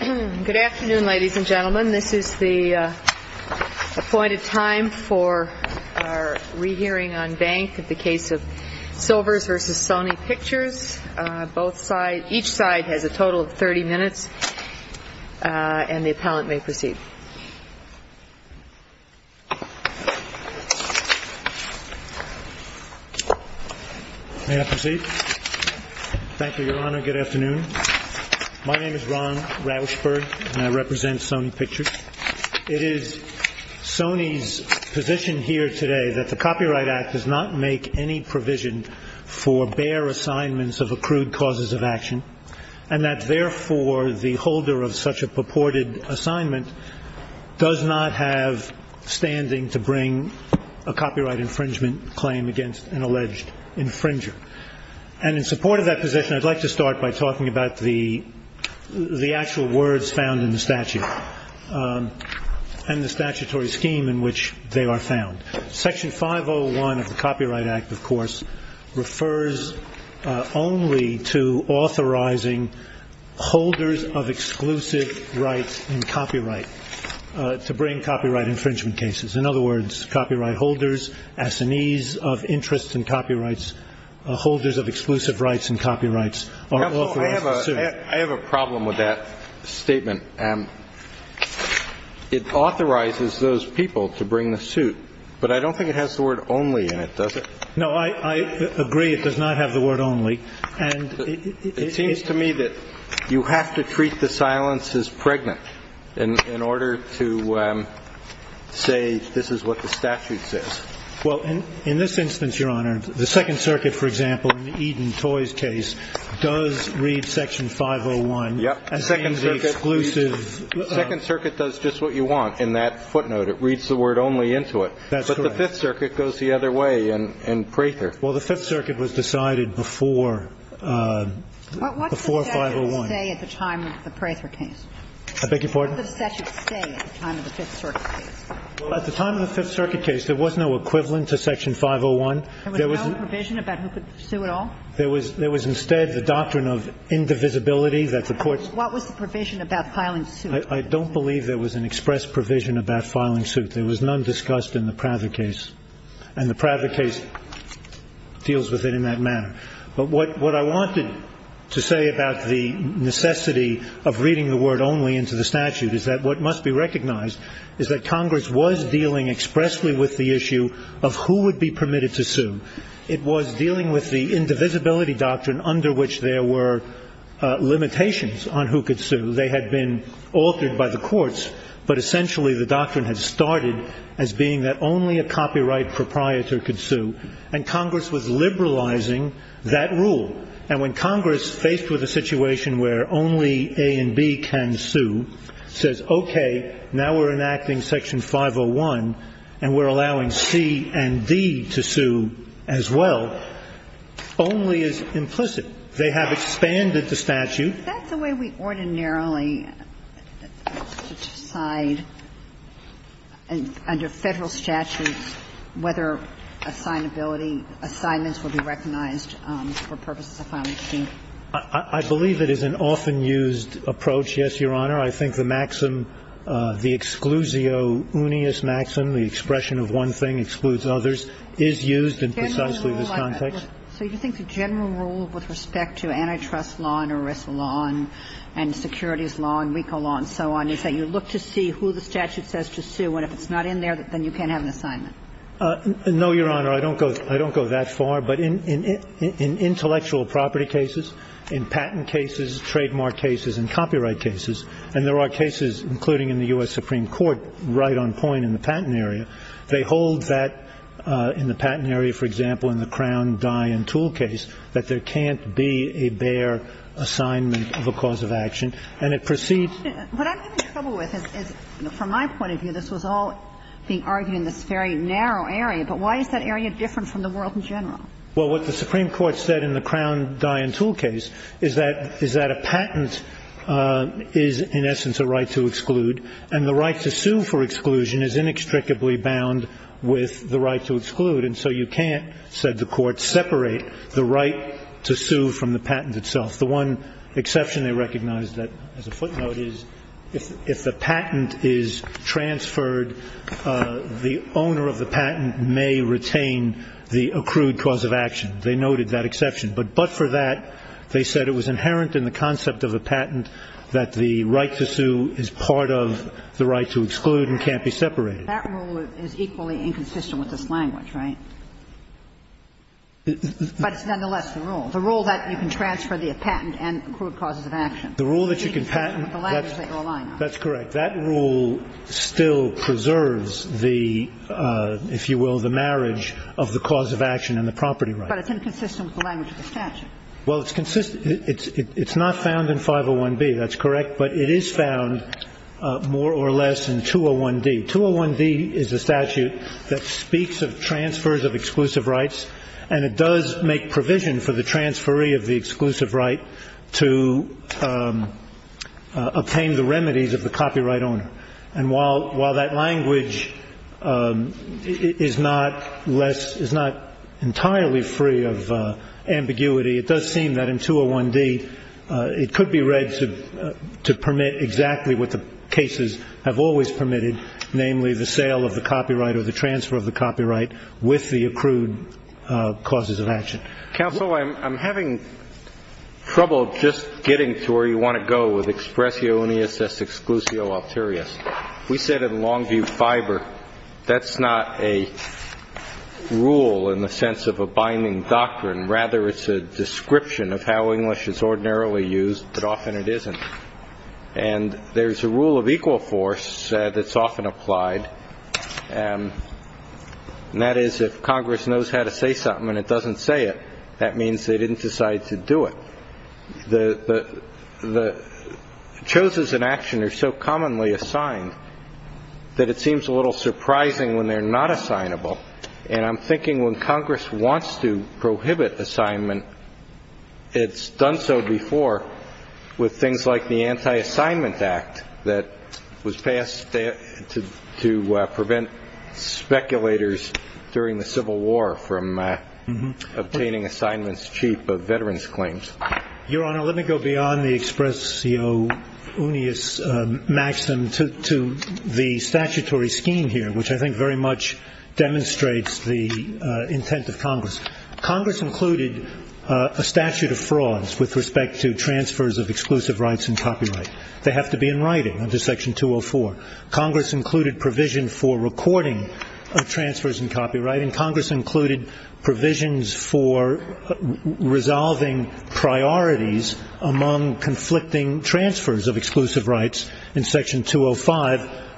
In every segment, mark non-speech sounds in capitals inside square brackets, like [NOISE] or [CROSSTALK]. Good afternoon, ladies and gentlemen. This is the appointed time for our rehearing on bank of the case of Silvers v. Sony Pictures. Each side has a total of 30 minutes, and the appellant may proceed. May I proceed? Thank you, Your Honor. Good afternoon. My name is Ron Rauchberg, and I represent Sony Pictures. It is Sony's position here today that the Copyright Act does not make any provision for bare assignments of accrued causes of action, and that therefore the holder of such a purported assignment does not have standing to bring a copyright infringement claim against an alleged infringer. And in support of that position, I'd like to start by talking about the actual words found in the statute and the statutory scheme in which they are found. Section 501 of the Copyright Act, of course, refers only to authorizing holders of exclusive rights in copyright to bring copyright infringement cases. In other words, copyright holders, assinees of interest in copyrights, holders of exclusive rights in copyrights are authorized to sue. But I don't think it has the word only in it, does it? No, I agree. It does not have the word only. And it seems to me that you have to treat the silence as pregnant in order to say this is what the statute says. Well, in this instance, Your Honor, the Second Circuit, for example, in the Eden Toys case, does read Section 501. Yes, the Second Circuit does just what you want in that footnote. It reads the word only into it. But the Fifth Circuit goes the other way in Prather. Well, the Fifth Circuit was decided before 501. What did the statute say at the time of the Prather case? I beg your pardon? What did the statute say at the time of the Fifth Circuit case? Well, at the time of the Fifth Circuit case, there was no equivalent to Section 501. There was no provision about who could sue at all? There was instead the doctrine of indivisibility that the courts ---- What was the provision about filing suit? I don't believe there was an express provision about filing suit. There was none discussed in the Prather case. And the Prather case deals with it in that manner. But what I wanted to say about the necessity of reading the word only into the statute is that what must be recognized is that Congress was dealing expressly with the issue of who would be permitted to sue. It was dealing with the indivisibility doctrine under which there were limitations on who could sue. They had been altered by the courts. But essentially the doctrine had started as being that only a copyright proprietor could sue. And Congress was liberalizing that rule. And when Congress, faced with a situation where only A and B can sue, says, okay, now we're enacting Section 501 and we're allowing C and D to sue as well, only is implicit. They have expanded the statute. That's the way we ordinarily decide under Federal statutes whether assignability assignments will be recognized for purposes of filing suit. I believe it is an often used approach, yes, Your Honor. I think the maxim, the exclusio unius maxim, the expression of one thing excludes others, is used in precisely this context. So you think the general rule with respect to antitrust law and ERISA law and securities law and RICO law and so on is that you look to see who the statute says to sue, and if it's not in there, then you can't have an assignment? No, Your Honor. I don't go that far. But in intellectual property cases, in patent cases, trademark cases and copyright cases, and there are cases, including in the U.S. Supreme Court, right on point in the patent area, they hold that in the patent area, for example, in the Crown Dye and Tool case, that there can't be a bare assignment of a cause of action, and it precedes What I'm having trouble with is, from my point of view, this was all being argued in this very narrow area, but why is that area different from the world in general? Well, what the Supreme Court said in the Crown Dye and Tool case is that a patent is, in essence, a right to exclude, and the right to sue for exclusion is inextricably bound with the right to exclude. And so you can't, said the Court, separate the right to sue from the patent itself. The one exception they recognized, as a footnote, is if the patent is transferred, the owner of the patent may retain the accrued cause of action. They noted that exception. But but for that, they said it was inherent in the concept of a patent that the right to sue is part of the right to exclude and can't be separated. That rule is equally inconsistent with this language, right? But it's nonetheless the rule, the rule that you can transfer the patent and accrued causes of action. The rule that you can patent, that's correct. That rule still preserves the, if you will, the marriage of the cause of action and the property right. But it's inconsistent with the language of the statute. Well, it's consistent. It's not found in 501B. That's correct. But it is found more or less in 201D. 201D is a statute that speaks of transfers of exclusive rights, and it does make provision for the transferee of the exclusive right to obtain the remedies of the copyright owner. And while that language is not less, is not entirely free of ambiguity, it does seem that in 201D it could be read to permit exactly what the cases have always permitted, namely the sale of the copyright or the transfer of the copyright with the accrued causes of action. Counsel, I'm having trouble just getting to where you want to go with expressionis exclusio alterius. We said in Longview Fiber that's not a rule in the sense of a binding doctrine. Rather, it's a description of how English is ordinarily used, but often it isn't. And there's a rule of equal force that's often applied, and that is if Congress knows how to say something and it doesn't say it, that means they didn't decide to do it. The choices in action are so commonly assigned that it seems a little surprising when they're not assignable. And I'm thinking when Congress wants to prohibit assignment, it's done so before with things like the Anti-Assignment Act that was passed to prevent speculators during the Civil War from obtaining assignments cheap of veterans' claims. Your Honor, let me go beyond the expressio unius maxim to the statutory scheme here, which I think very much demonstrates the intent of Congress. Congress included a statute of frauds with respect to transfers of exclusive rights and copyright. They have to be in writing under Section 204. Congress included provision for recording of transfers and copyright, and Congress included provisions for resolving priorities among conflicting transfers of exclusive rights in Section 205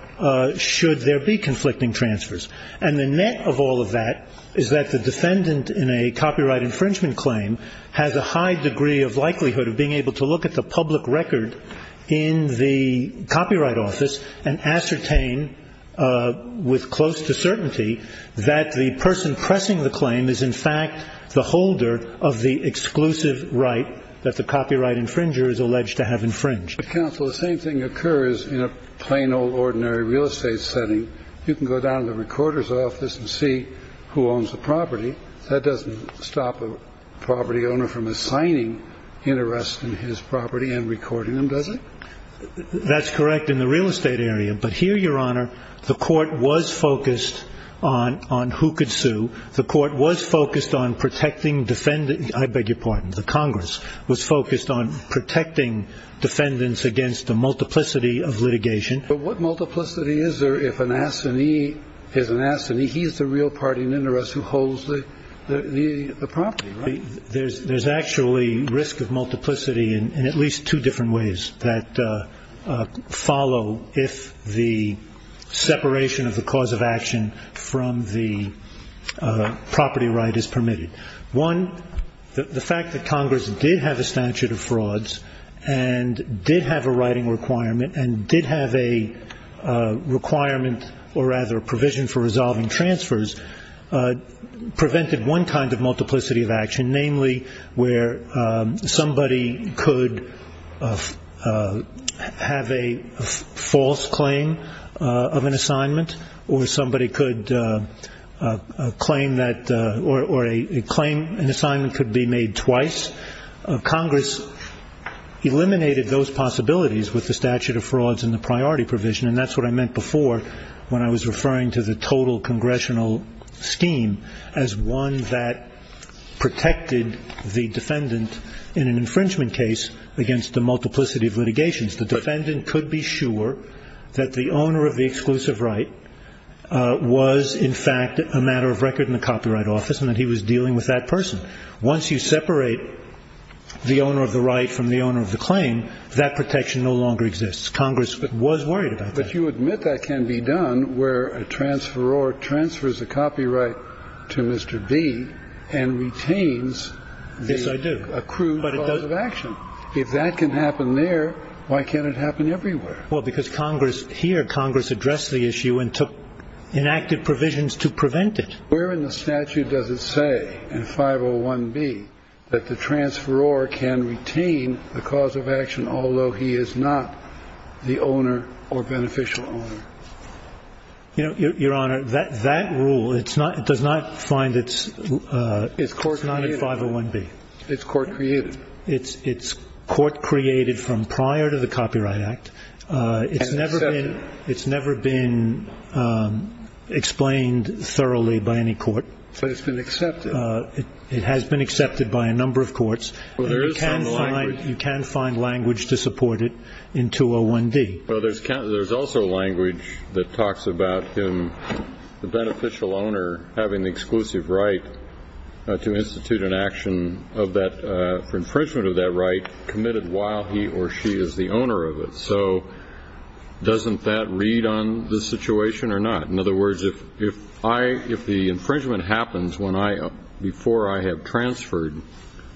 should there be conflicting transfers. And the net of all of that is that the defendant in a copyright infringement claim has a high degree of likelihood of being able to look at the public record in the Copyright Office and ascertain with close to certainty that the person pressing the claim is, in fact, the holder of the exclusive right that the copyright infringer is alleged to have infringed. But, Counsel, the same thing occurs in a plain old ordinary real estate setting. You can go down to the recorder's office and see who owns the property. That doesn't stop a property owner from assigning interests in his property and recording them, does it? That's correct in the real estate area. But here, Your Honor, the Court was focused on who could sue. The Court was focused on protecting defendants. I beg your pardon. The Congress was focused on protecting defendants against the multiplicity of litigation. But what multiplicity is there if an assignee is an assignee? He's the real party in interest who holds the property, right? There's actually risk of multiplicity in at least two different ways that follow if the separation of the cause of action from the property right is permitted. One, the fact that Congress did have a statute of frauds and did have a writing requirement and did have a requirement or, rather, a provision for resolving transfers, prevented one kind of multiplicity of action, namely where somebody could have a false claim of an assignment or somebody could claim that an assignment could be made twice. Congress eliminated those possibilities with the statute of frauds and the priority provision, and that's what I meant before when I was referring to the total congressional scheme as one that protected the defendant in an infringement case against the multiplicity of litigation. The defendant could be sure that the owner of the exclusive right was, in fact, a matter of record in the copyright office and that he was dealing with that person. Once you separate the owner of the right from the owner of the claim, that protection no longer exists. Congress was worried about that. But you admit that can be done where a transferor transfers a copyright to Mr. B and retains the accrued cause of action. Yes, I do. If that can happen there, why can't it happen everywhere? Well, because here Congress addressed the issue and took inactive provisions to prevent it. Where in the statute does it say in 501B that the transferor can retain the cause of action although he is not the owner or beneficial owner? Your Honor, that rule, it does not find its – It's court-created. It's not in 501B. It's court-created. It's court-created from prior to the Copyright Act. And accepted. It's never been explained thoroughly by any court. But it's been accepted. It has been accepted by a number of courts. Well, there is some language. You can find language to support it in 201D. Well, there's also language that talks about him, the beneficial owner, having the exclusive right to institute an action for infringement of that right committed while he or she is the owner of it. So doesn't that read on the situation or not? In other words, if the infringement happens before I have transferred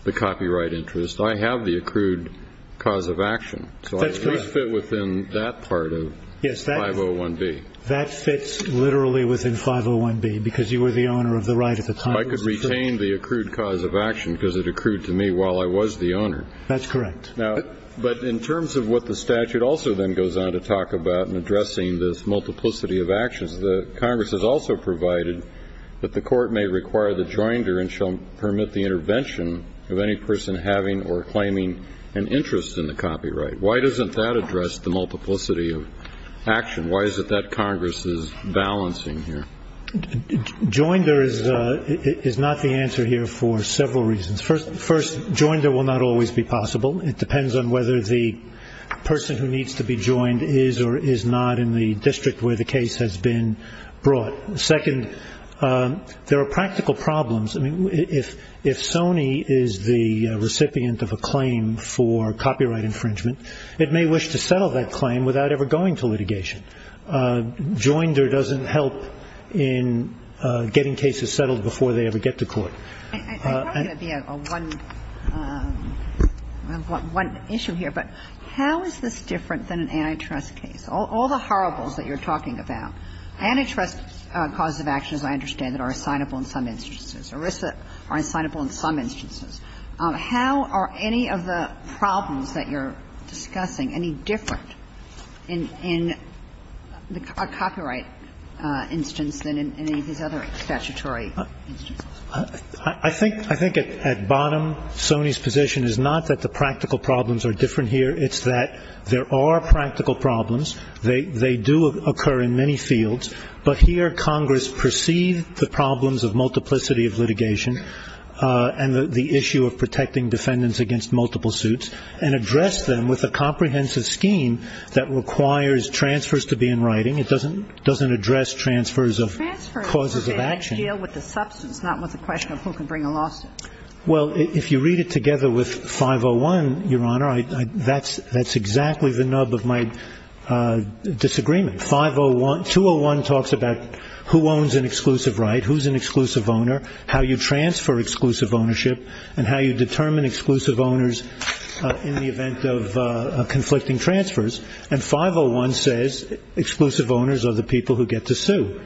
the copyright interest, I have the accrued cause of action. So I at least fit within that part of 501B. That fits literally within 501B because you were the owner of the right at the time. I could retain the accrued cause of action because it accrued to me while I was the owner. That's correct. But in terms of what the statute also then goes on to talk about in addressing this multiplicity of actions, the Congress has also provided that the court may require the joinder and shall permit the intervention of any person having or claiming an interest in the copyright. Why doesn't that address the multiplicity of action? Why is it that Congress is balancing here? Joinder is not the answer here for several reasons. First, joinder will not always be possible. It depends on whether the person who needs to be joined is or is not in the district where the case has been brought. Second, there are practical problems. If Sony is the recipient of a claim for copyright infringement, it may wish to settle that claim without ever going to litigation. Joinder doesn't help in getting cases settled before they ever get to court. I'm going to be on one issue here, but how is this different than an antitrust case? All the horribles that you're talking about, antitrust causes of action, as I understand it, are assignable in some instances. ERISA are assignable in some instances. How are any of the problems that you're discussing any different in the copyright instance than in any of these other statutory instances? I think at bottom, Sony's position is not that the practical problems are different here. It's that there are practical problems. They do occur in many fields, but here Congress perceived the problems of multiplicity of litigation and the issue of protecting defendants against multiple suits and addressed them with a comprehensive scheme that requires transfers to be in writing. It doesn't address transfers of causes of action. Transfers deal with the substance, not with the question of who can bring a lawsuit. Well, if you read it together with 501, Your Honor, that's exactly the nub of my disagreement. 201 talks about who owns an exclusive right, who's an exclusive owner, how you transfer exclusive ownership, and how you determine exclusive owners in the event of conflicting transfers. And 501 says exclusive owners are the people who get to sue.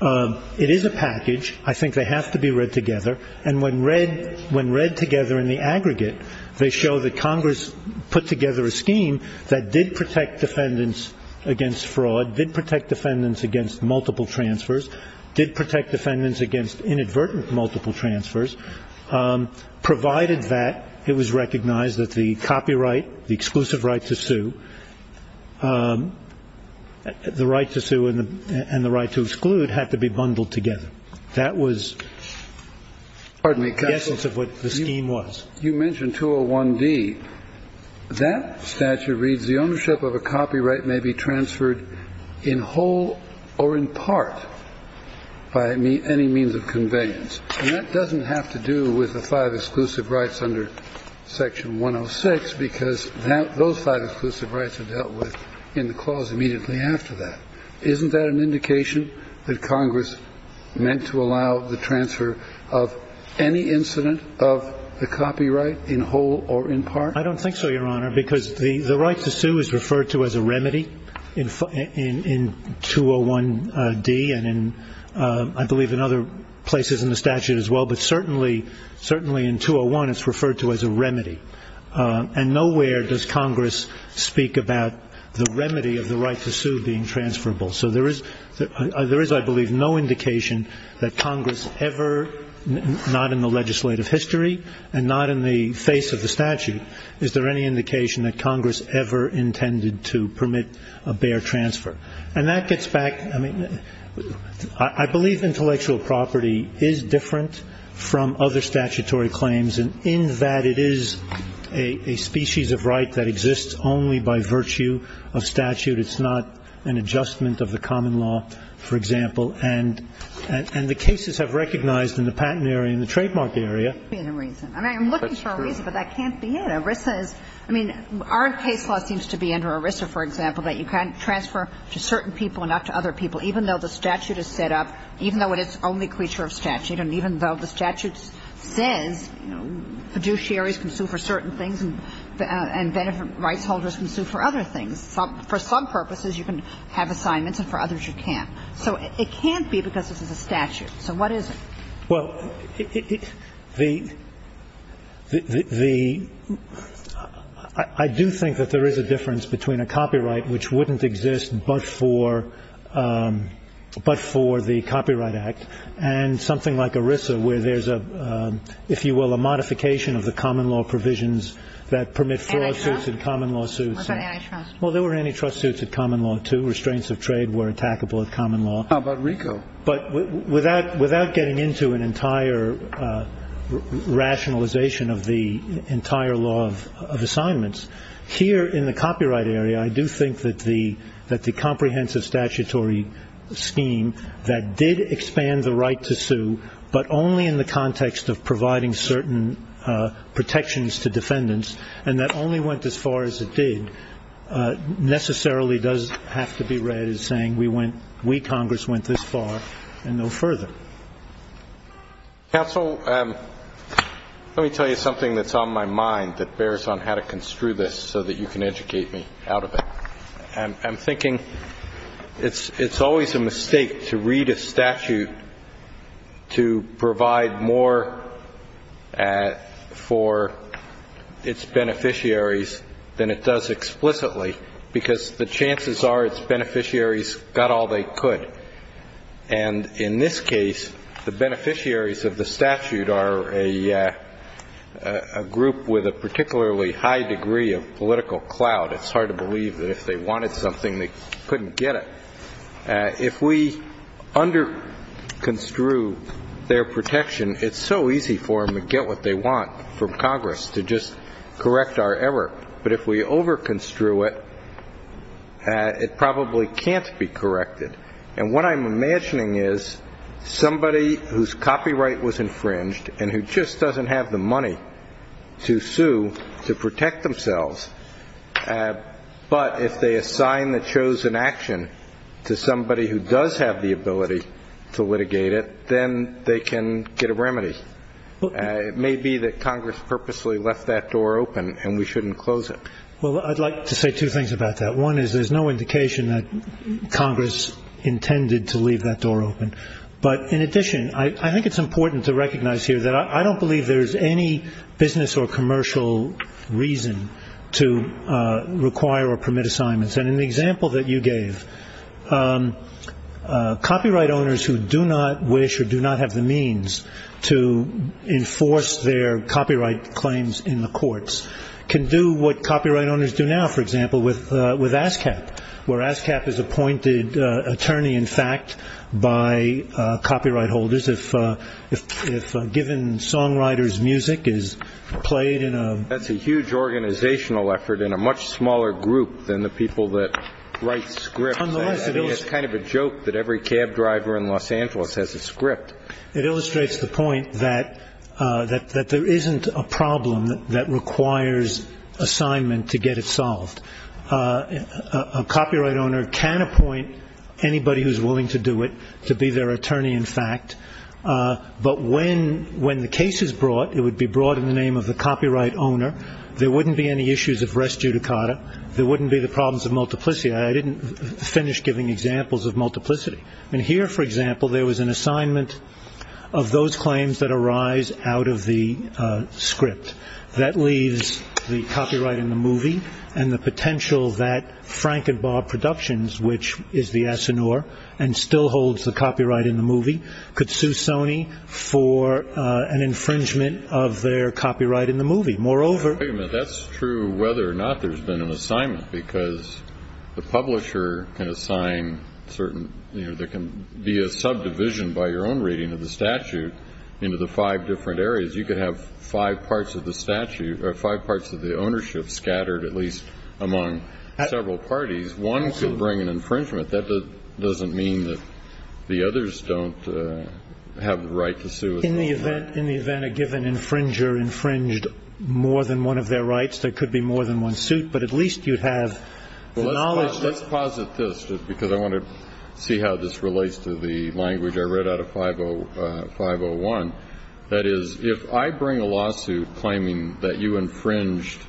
It is a package. I think they have to be read together. And when read together in the aggregate, they show that Congress put together a scheme that did protect defendants against fraud, did protect defendants against multiple transfers, did protect defendants against inadvertent multiple transfers, provided that it was recognized that the copyright, the exclusive right to sue, the right to sue and the right to exclude had to be bundled together. That was the essence of what the scheme was. You mentioned 201D. That statute reads, the ownership of a copyright may be transferred in whole or in part by any means of conveyance. And that doesn't have to do with the five exclusive rights under Section 106 because those five exclusive rights are dealt with in the clause immediately after that. Isn't that an indication that Congress meant to allow the transfer of any incident of the copyright in whole or in part? I don't think so, Your Honor, because the right to sue is referred to as a remedy in 201D and I believe in other places in the statute as well. But certainly in 201 it's referred to as a remedy. And nowhere does Congress speak about the remedy of the right to sue being transferable. So there is, I believe, no indication that Congress ever, not in the legislative history and not in the face of the statute, is there any indication that Congress ever intended to permit a bare transfer. And that gets back, I mean, I believe intellectual property is different from other statutory claims in that it is a species of right that exists only by virtue of statute. It's not an adjustment of the common law, for example. And the cases have recognized in the patent area and the trademark area. That's true. I mean, I'm looking for a reason, but that can't be it. ERISA is, I mean, our case law seems to be under ERISA, for example, that you can't transfer to certain people and not to other people, even though the statute is set up, even though it is only creature of statute and even though the statute says, you know, fiduciaries can sue for certain things and benefit rights holders can sue for other things. For some purposes you can have assignments and for others you can't. So it can't be because this is a statute. So what is it? Well, the – I do think that there is a difference between a copyright which wouldn't exist but for the Copyright Act and something like ERISA where there's a, if you will, a modification of the common law provisions that permit fraud suits and common law suits. Was there antitrust? Well, there were antitrust suits at common law, too. Restraints of trade were attackable at common law. How about RICO? But without getting into an entire rationalization of the entire law of assignments, here in the copyright area I do think that the comprehensive statutory scheme that did expand the right to sue but only in the context of providing certain protections to defendants and that only went as far as it did necessarily does have to be read as saying we Congress went this far and no further. Counsel, let me tell you something that's on my mind that bears on how to construe this so that you can educate me out of it. I'm thinking it's always a mistake to read a statute to provide more for its beneficiaries than it does explicitly because the chances are its beneficiaries got all they could. And in this case, the beneficiaries of the statute are a group with a particularly high degree of political clout. It's hard to believe that if they wanted something, they couldn't get it. If we underconstrue their protection, it's so easy for them to get what they want from Congress to just correct our error. But if we overconstrue it, it probably can't be corrected. And what I'm imagining is somebody whose copyright was infringed and who just doesn't have the money to sue to protect themselves, but if they assign the chosen action to somebody who does have the ability to litigate it, then they can get a remedy. It may be that Congress purposely left that door open and we shouldn't close it. Well, I'd like to say two things about that. One is there's no indication that Congress intended to leave that door open. But in addition, I think it's important to recognize here that I don't believe there's any business or commercial reason to require or permit assignments. And in the example that you gave, copyright owners who do not wish or do not have the means to enforce their copyright claims in the courts can do what copyright owners do now, for example, with ASCAP, where ASCAP is appointed attorney, in fact, by copyright holders. If given songwriter's music is played in a- That's a huge organizational effort in a much smaller group than the people that write scripts. It's kind of a joke that every cab driver in Los Angeles has a script. It illustrates the point that there isn't a problem that requires assignment to get it solved. A copyright owner can appoint anybody who's willing to do it to be their attorney, in fact. But when the case is brought, it would be brought in the name of the copyright owner. There wouldn't be any issues of res judicata. There wouldn't be the problems of multiplicity. I didn't finish giving examples of multiplicity. And here, for example, there was an assignment of those claims that arise out of the script. That leaves the copyright in the movie and the potential that Frank and Bob Productions, which is the Asinour and still holds the copyright in the movie, could sue Sony for an infringement of their copyright in the movie. Moreover- That's true whether or not there's been an assignment, because the publisher can assign certain- There can be a subdivision by your own reading of the statute into the five different areas. You could have five parts of the ownership scattered at least among several parties. One could bring an infringement. That doesn't mean that the others don't have the right to sue. In the event a given infringer infringed more than one of their rights, there could be more than one suit. But at least you'd have the knowledge- Let's posit this, just because I want to see how this relates to the language I read out of 501. That is, if I bring a lawsuit claiming that you infringed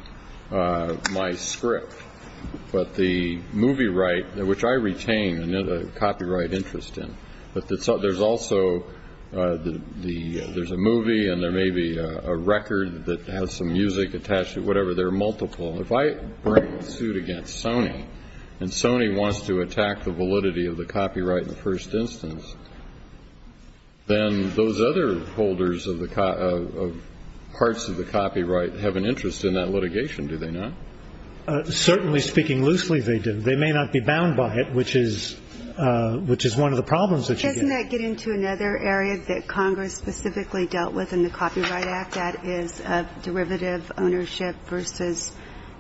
my script, but the movie right, which I retain a copyright interest in, but there's also a movie and there may be a record that has some music attached to it, whatever. There are multiple. If I bring a suit against Sony and Sony wants to attack the validity of the copyright in the first instance, then those other holders of parts of the copyright have an interest in that litigation, do they not? Certainly speaking loosely, they do. They may not be bound by it, which is one of the problems that you get. Doesn't that get into another area that Congress specifically dealt with in the Copyright Act? That is, derivative ownership versus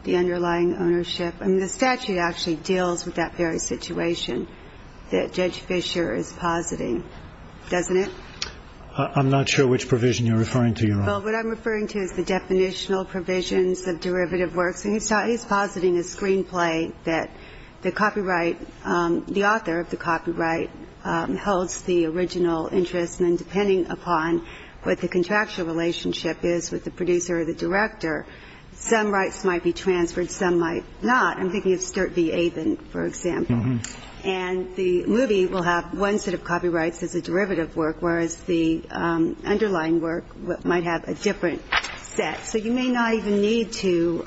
the underlying ownership. I mean, the statute actually deals with that very situation that Judge Fischer is positing, doesn't it? I'm not sure which provision you're referring to, Your Honor. Well, what I'm referring to is the definitional provisions of derivative works. He's positing a screenplay that the copyright, the author of the copyright, holds the original interest, and then depending upon what the contractual relationship is with the producer or the director, some rights might be transferred, some might not. I'm thinking of Sturt v. Avon, for example. And the movie will have one set of copyrights as a derivative work, whereas the underlying work might have a different set. So you may not even need to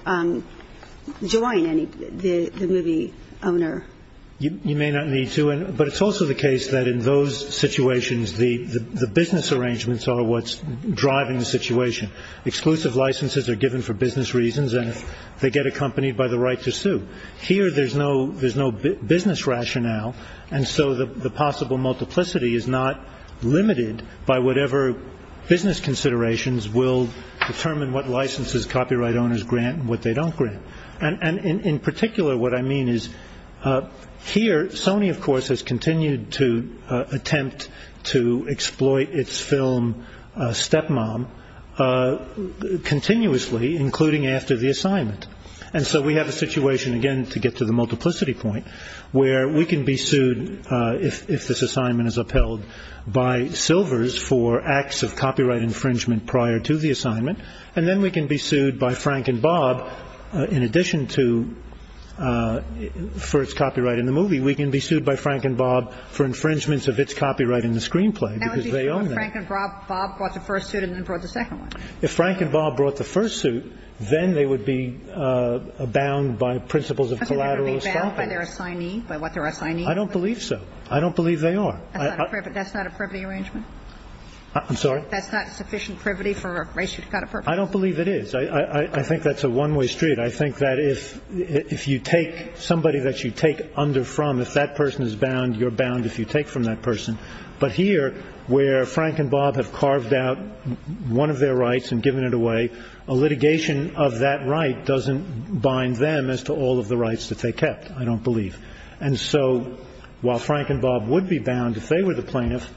join the movie owner. You may not need to, but it's also the case that in those situations, the business arrangements are what's driving the situation. Exclusive licenses are given for business reasons, and they get accompanied by the right to sue. Here there's no business rationale, and so the possible multiplicity is not limited by whatever business considerations will determine what licenses copyright owners grant and what they don't grant. And in particular, what I mean is here Sony, of course, has continued to attempt to exploit its film stepmom continuously, including after the assignment. And so we have a situation, again, to get to the multiplicity point, where we can be sued if this assignment is upheld by Silvers for acts of copyright infringement prior to the assignment, and then we can be sued by Frank and Bob in addition to for its copyright in the movie. We can be sued by Frank and Bob for infringements of its copyright in the screenplay, because they own that. If Frank and Bob brought the first suit and then brought the second one. If Frank and Bob brought the first suit, then they would be bound by principles of collateral estoppel. Okay. They would be bound by their assignee, by what their assignee. I don't believe so. I don't believe they are. That's not a privity arrangement? I'm sorry? That's not sufficient privity for a race you've got a purpose? I don't believe it is. I think that's a one-way street. I think that if you take somebody that you take under from, if that person is bound, you're bound if you take from that person. But here, where Frank and Bob have carved out one of their rights and given it away, a litigation of that right doesn't bind them as to all of the rights that they kept, I don't believe. And so while Frank and Bob would be bound if they were the plaintiff,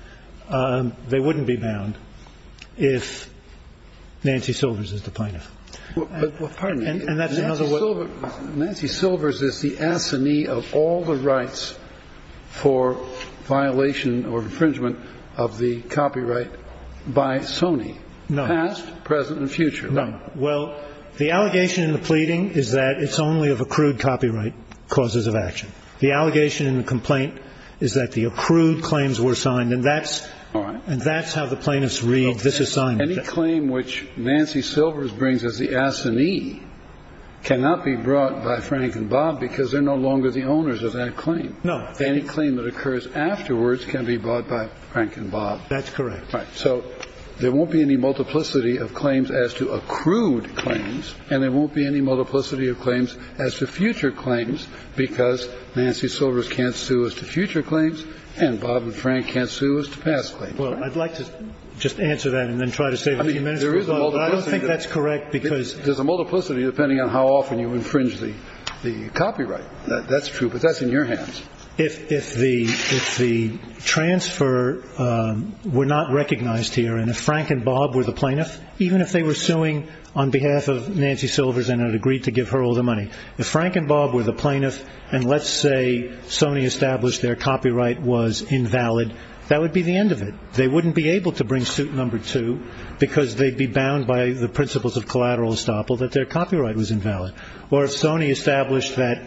they wouldn't be bound if Nancy Silvers is the plaintiff. Well, pardon me. Nancy Silvers is the assignee of all the rights for violation or infringement of the copyright by Sony, past, present and future. Well, the allegation in the pleading is that it's only of accrued copyright causes of action. The allegation in the complaint is that the accrued claims were signed, and that's how the plaintiffs read this assignment. Any claim which Nancy Silvers brings as the assignee cannot be brought by Frank and Bob because they're no longer the owners of that claim. No. Any claim that occurs afterwards can be brought by Frank and Bob. That's correct. Right. So there won't be any multiplicity of claims as to accrued claims and there won't be any multiplicity of claims as to future claims because Nancy Silvers can't sue us to future claims and Bob and Frank can't sue us to past claims. Well, I'd like to just answer that and then try to save a few minutes. I don't think that's correct because there's a multiplicity depending on how often you infringe the copyright. That's true. But that's in your hands. If the transfer were not recognized here and if Frank and Bob were the plaintiff, even if they were suing on behalf of Nancy Silvers and had agreed to give her all the money, if Frank and Bob were the plaintiff and let's say Sony established their copyright was invalid, that would be the end of it. They wouldn't be able to bring suit number two because they'd be bound by the principles of collateral estoppel that their copyright was invalid. Or if Sony established that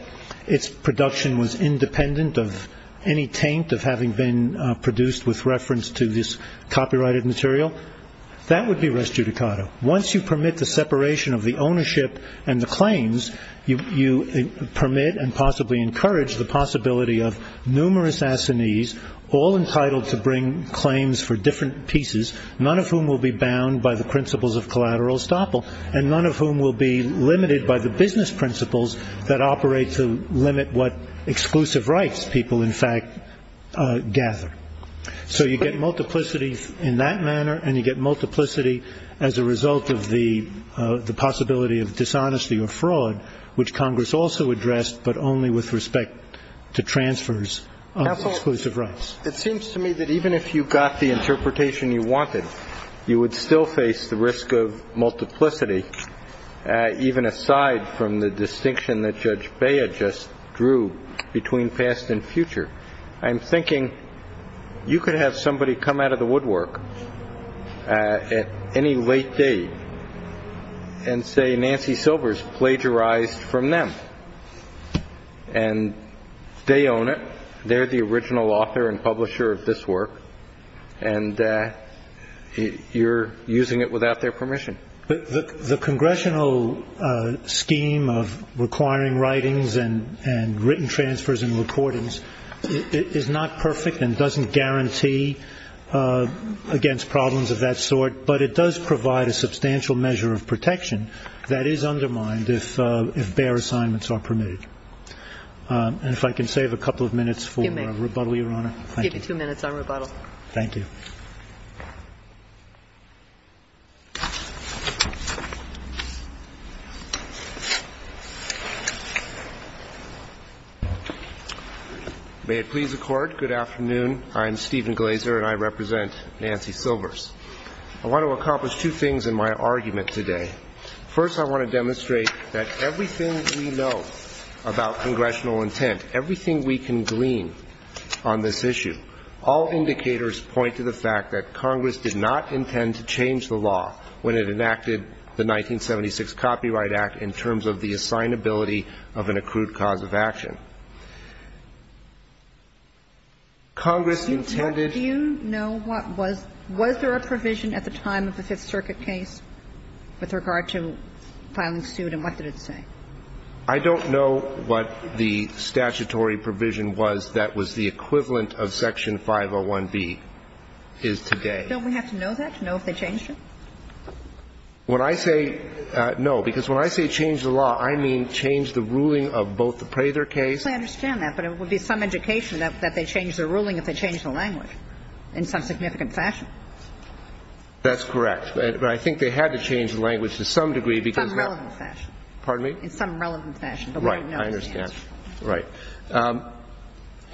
its production was independent of any taint of having been produced with reference to this copyrighted material, that would be res judicato. Once you permit the separation of the ownership and the claims, you permit and possibly encourage the possibility of numerous assinees all entitled to bring claims for different pieces, none of whom will be bound by the principles of collateral estoppel and none of whom will be limited by the business principles that operate to limit what exclusive rights people in fact gather. So you get multiplicity in that manner and you get multiplicity as a result of the possibility of dishonesty or fraud, which Congress also addressed but only with respect to transfers of exclusive rights. It seems to me that even if you got the interpretation you wanted, you would still face the risk of multiplicity, even aside from the distinction that Judge Baya just drew between past and future. I'm thinking you could have somebody come out of the woodwork at any late date and say Nancy Silver's plagiarized from them and they own it. They're the original author and publisher of this work and you're using it without their permission. The congressional scheme of requiring writings and written transfers and recordings is not perfect and doesn't guarantee against problems of that sort, but it does provide a substantial measure of protection that is undermined if bare assignments are permitted. And if I can save a couple of minutes for rebuttal, Your Honor. Give you two minutes on rebuttal. Thank you. May it please the Court. Good afternoon. I'm Stephen Glazer and I represent Nancy Silver's. I want to accomplish two things in my argument today. First, I want to demonstrate that everything we know about congressional intent, everything we can glean on this issue, all indicators point to the fact that Congress did not intend to change the law when it enacted the 1976 Copyright Act in terms of the assignability of an accrued cause of action. Congress intended to do. And the second thing I want to demonstrate is that Congress did not intend to change of an accrued cause of action. Do you know what was – was there a provision at the time of the Fifth Circuit case with regard to filing suit and what did it say? I don't know what the statutory provision was that was the equivalent of Section 501B is today. Don't we have to know that to know if they changed it? When I say no, because when I say change the law, I mean change the ruling of both the Prather case – I understand that, but it would be some education that they change their ruling if they change the language in some significant fashion. That's correct. But I think they had to change the language to some degree because – In some relevant fashion. Pardon me? In some relevant fashion. Right. I understand. Right.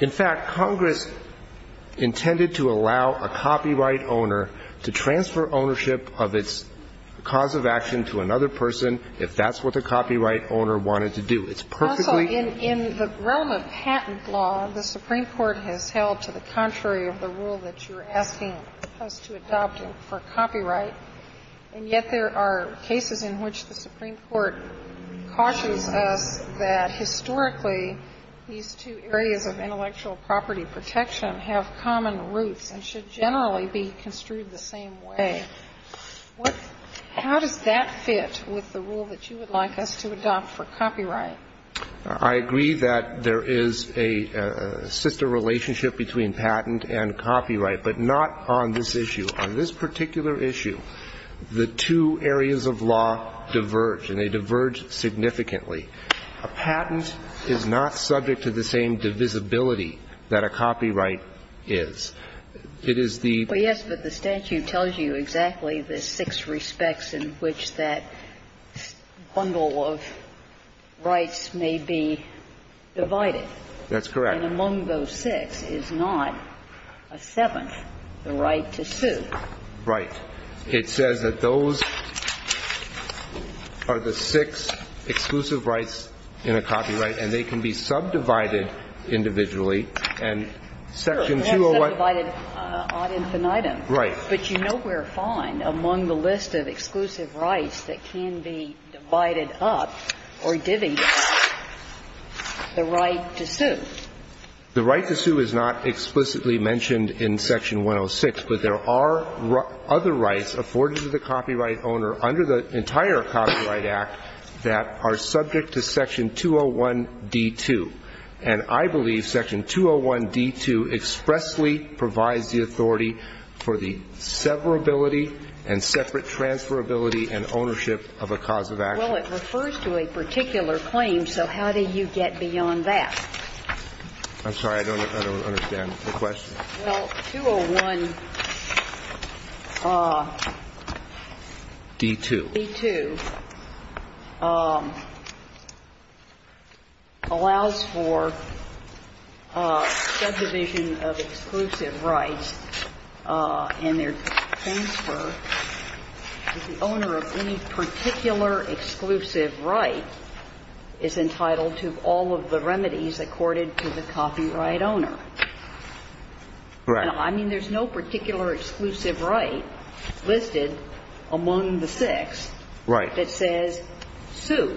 In fact, Congress intended to allow a copyright owner to transfer ownership of its cause of action to another person if that's what the copyright owner wanted to do. It's perfectly – Also, in the realm of patent law, the Supreme Court has held to the contrary of the rule that you're asking us to adopt for copyright, and yet there are cases in which the Supreme Court cautions us that historically these two areas of intellectual property protection have common roots and should generally be construed the same way. How does that fit with the rule that you would like us to adopt for copyright? I agree that there is a sister relationship between patent and copyright, but not on this issue. On this particular issue, the two areas of law diverge, and they diverge significantly. A patent is not subject to the same divisibility that a copyright is. It is the – Well, yes, but the statute tells you exactly the six respects in which that bundle of rights may be divided. That's correct. And among those six is not a seventh, the right to sue. Right. It says that those are the six exclusive rights in a copyright, and they can be subdivided individually, and Section 201 – Sure. They're subdivided ad infinitum. Right. But you know where to find among the list of exclusive rights that can be divided up or divvied up, the right to sue. The right to sue is not explicitly mentioned in Section 106, but there are other rights afforded to the copyright owner under the entire Copyright Act that are subject to Section 201d2, and I believe Section 201d2 expressly provides the authority for the severability and separate transferability and ownership of a cause of action. Well, it refers to a particular claim, so how do you get beyond that? I'm sorry. I don't understand the question. Well, 201d2 allows for subdivision of exclusive rights and their transfer to the owner of any particular exclusive right is entitled to all of the remedies accorded to the copyright owner. Correct. I mean, there's no particular exclusive right listed among the six that says sue.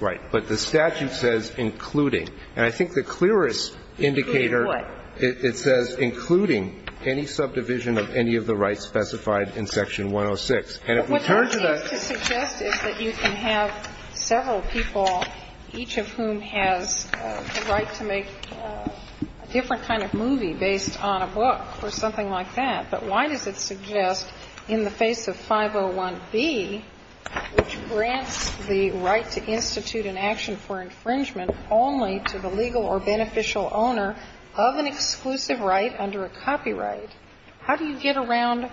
Right. But the statute says including. And I think the clearest indicator – Including what? It says including any subdivision of any of the rights specified in Section 106. And if we turn to the – What that is to suggest is that you can have several people, each of whom has the right to make a different kind of movie based on a book or something like that, but why does it suggest in the face of 501b, which grants the right to institute an action for infringement only to the legal or beneficial owner of an exclusive right under a copyright, how do you get around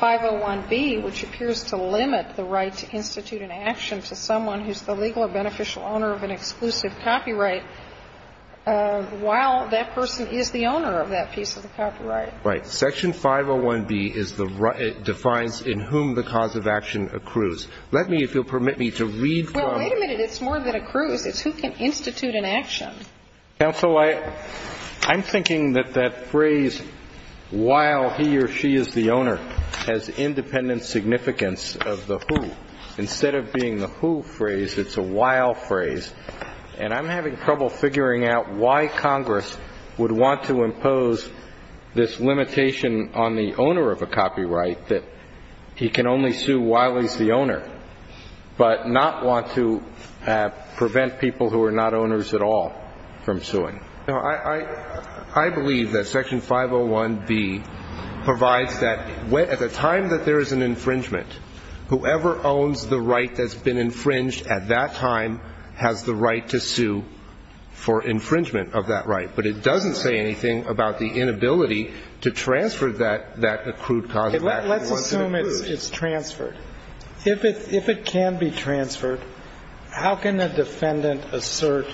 501b, which appears to limit the right to institute an action to someone who's the legal or beneficial owner of an exclusive copyright while that person is the owner of that piece of the copyright? Right. Section 501b defines in whom the cause of action accrues. Let me, if you'll permit me to read from – Well, wait a minute. It's more than accrues. It's who can institute an action. Counsel, I'm thinking that that phrase, while he or she is the owner, has independent significance of the who. Instead of being the who phrase, it's a while phrase. And I'm having trouble figuring out why Congress would want to impose this limitation on the owner of a copyright that he can only sue while he's the owner, but not want to prevent people who are not owners at all from suing. No, I believe that Section 501b provides that at the time that there is an infringement, whoever owns the right that's been infringed at that time has the right to sue for infringement of that right, but it doesn't say anything about the inability to transfer that accrued cause of action. Let's assume it's transferred. If it can be transferred, how can a defendant assert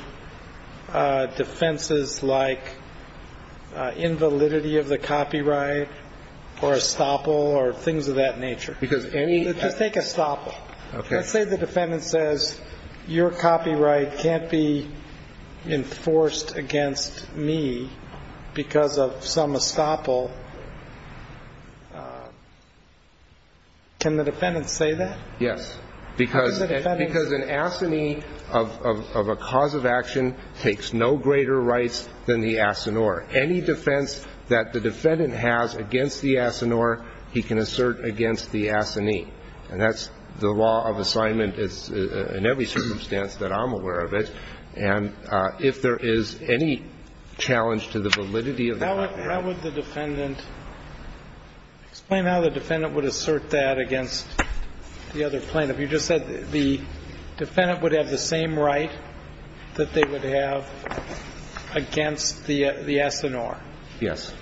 defenses like invalidity of the copyright or estoppel or things of that nature? Because any – Just take estoppel. Okay. Let's say the defendant says, Your copyright can't be enforced against me because of some estoppel. Can the defendant say that? Yes. Because an assignee of a cause of action takes no greater rights than the assigneur. Any defense that the defendant has against the assigneur, he can assert against the assignee. And that's the law of assignment. It's in every circumstance that I'm aware of it. And if there is any challenge to the validity of the copyright. How would the defendant – explain how the defendant would assert that against the other plaintiff. You just said the defendant would have the same right that they would have against the assigneur. Yes.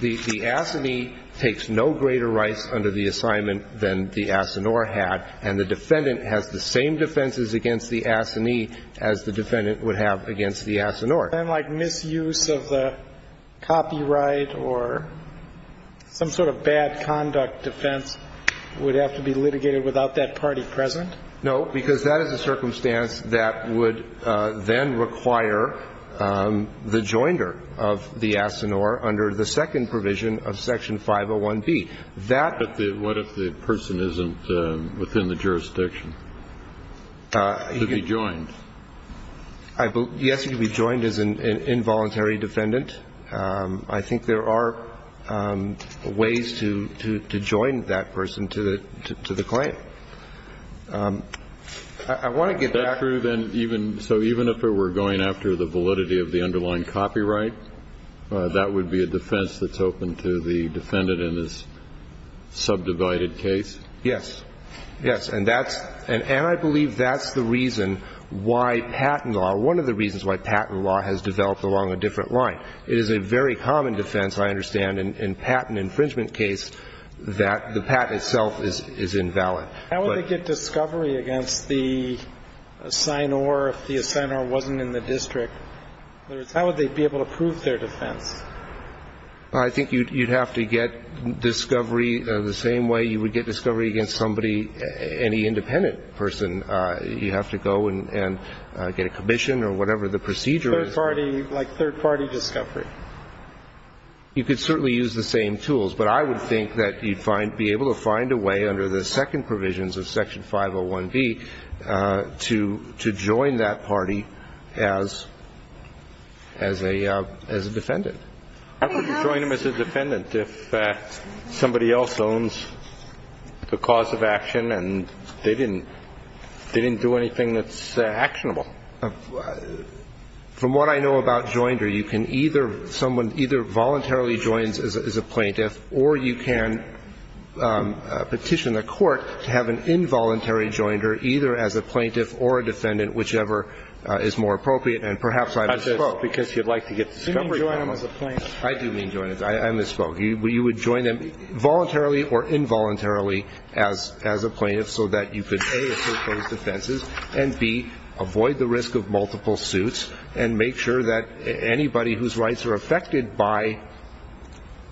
The assignee takes no greater rights under the assignment than the assigneur had, and the defendant has the same defenses against the assignee as the defendant would have against the assigneur. Then like misuse of the copyright or some sort of bad conduct defense would have to be litigated without that party present? No, because that is a circumstance that would then require the joinder of the assigneur under the second provision of Section 501B. That – But what if the person isn't within the jurisdiction to be joined? Yes, he could be joined as an involuntary defendant. I think there are ways to join that person to the claim. I want to get back – Is that true then even – so even if we're going after the validity of the underlying copyright, that would be a defense that's open to the defendant in this subdivided case? Yes. Yes. And that's – and I believe that's the reason why patent law – one of the reasons why patent law has developed along a different line. It is a very common defense, I understand, in patent infringement case that the patent itself is invalid. How would they get discovery against the assigneur if the assigneur wasn't in the district? In other words, how would they be able to prove their defense? I think you'd have to get discovery the same way you would get discovery against somebody – any independent person. You have to go and get a commission or whatever the procedure is. Third-party – like third-party discovery. You could certainly use the same tools. But I would think that you'd be able to find a way under the second provisions of Section 501B to join that party as a defendant. How could you join them as a defendant if somebody else owns the cause of action and they didn't – they didn't do anything that's actionable? From what I know about Joinder, you can either – someone either voluntarily joins as a plaintiff or you can petition the court to have an involuntary Joinder either as a plaintiff or a defendant, whichever is more appropriate. And perhaps I misspoke. Because you'd like to get discovery. You mean join them as a plaintiff? I do mean join them. I misspoke. You would join them voluntarily or involuntarily as a plaintiff so that you could, A, assert those defenses, and, B, avoid the risk of multiple suits and make sure that anybody whose rights are affected by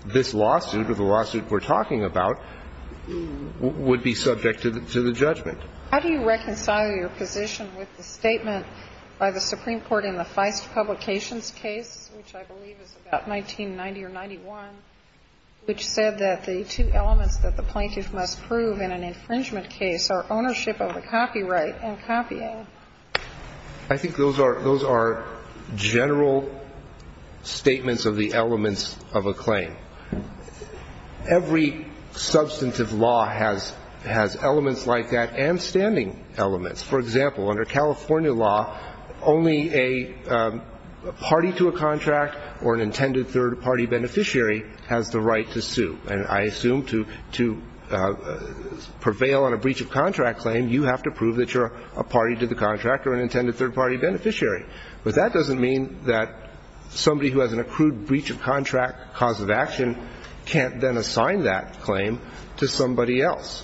this lawsuit or the lawsuit we're talking about would be subject to the judgment. How do you reconcile your position with the statement by the Supreme Court in the Feist Publications case, which I believe is about 1990 or 91, which said that the two elements that the plaintiff must prove in an infringement case are ownership of the copyright and copying? I think those are general statements of the elements of a claim. Every substantive law has elements like that and standing elements. For example, under California law, only a party to a contract or an intended third-party beneficiary has the right to sue. And I assume to prevail on a breach of contract claim, you have to prove that you're a party to the contract or an intended third-party beneficiary. But that doesn't mean that somebody who has an accrued breach of contract cause of action can't then assign that claim to somebody else.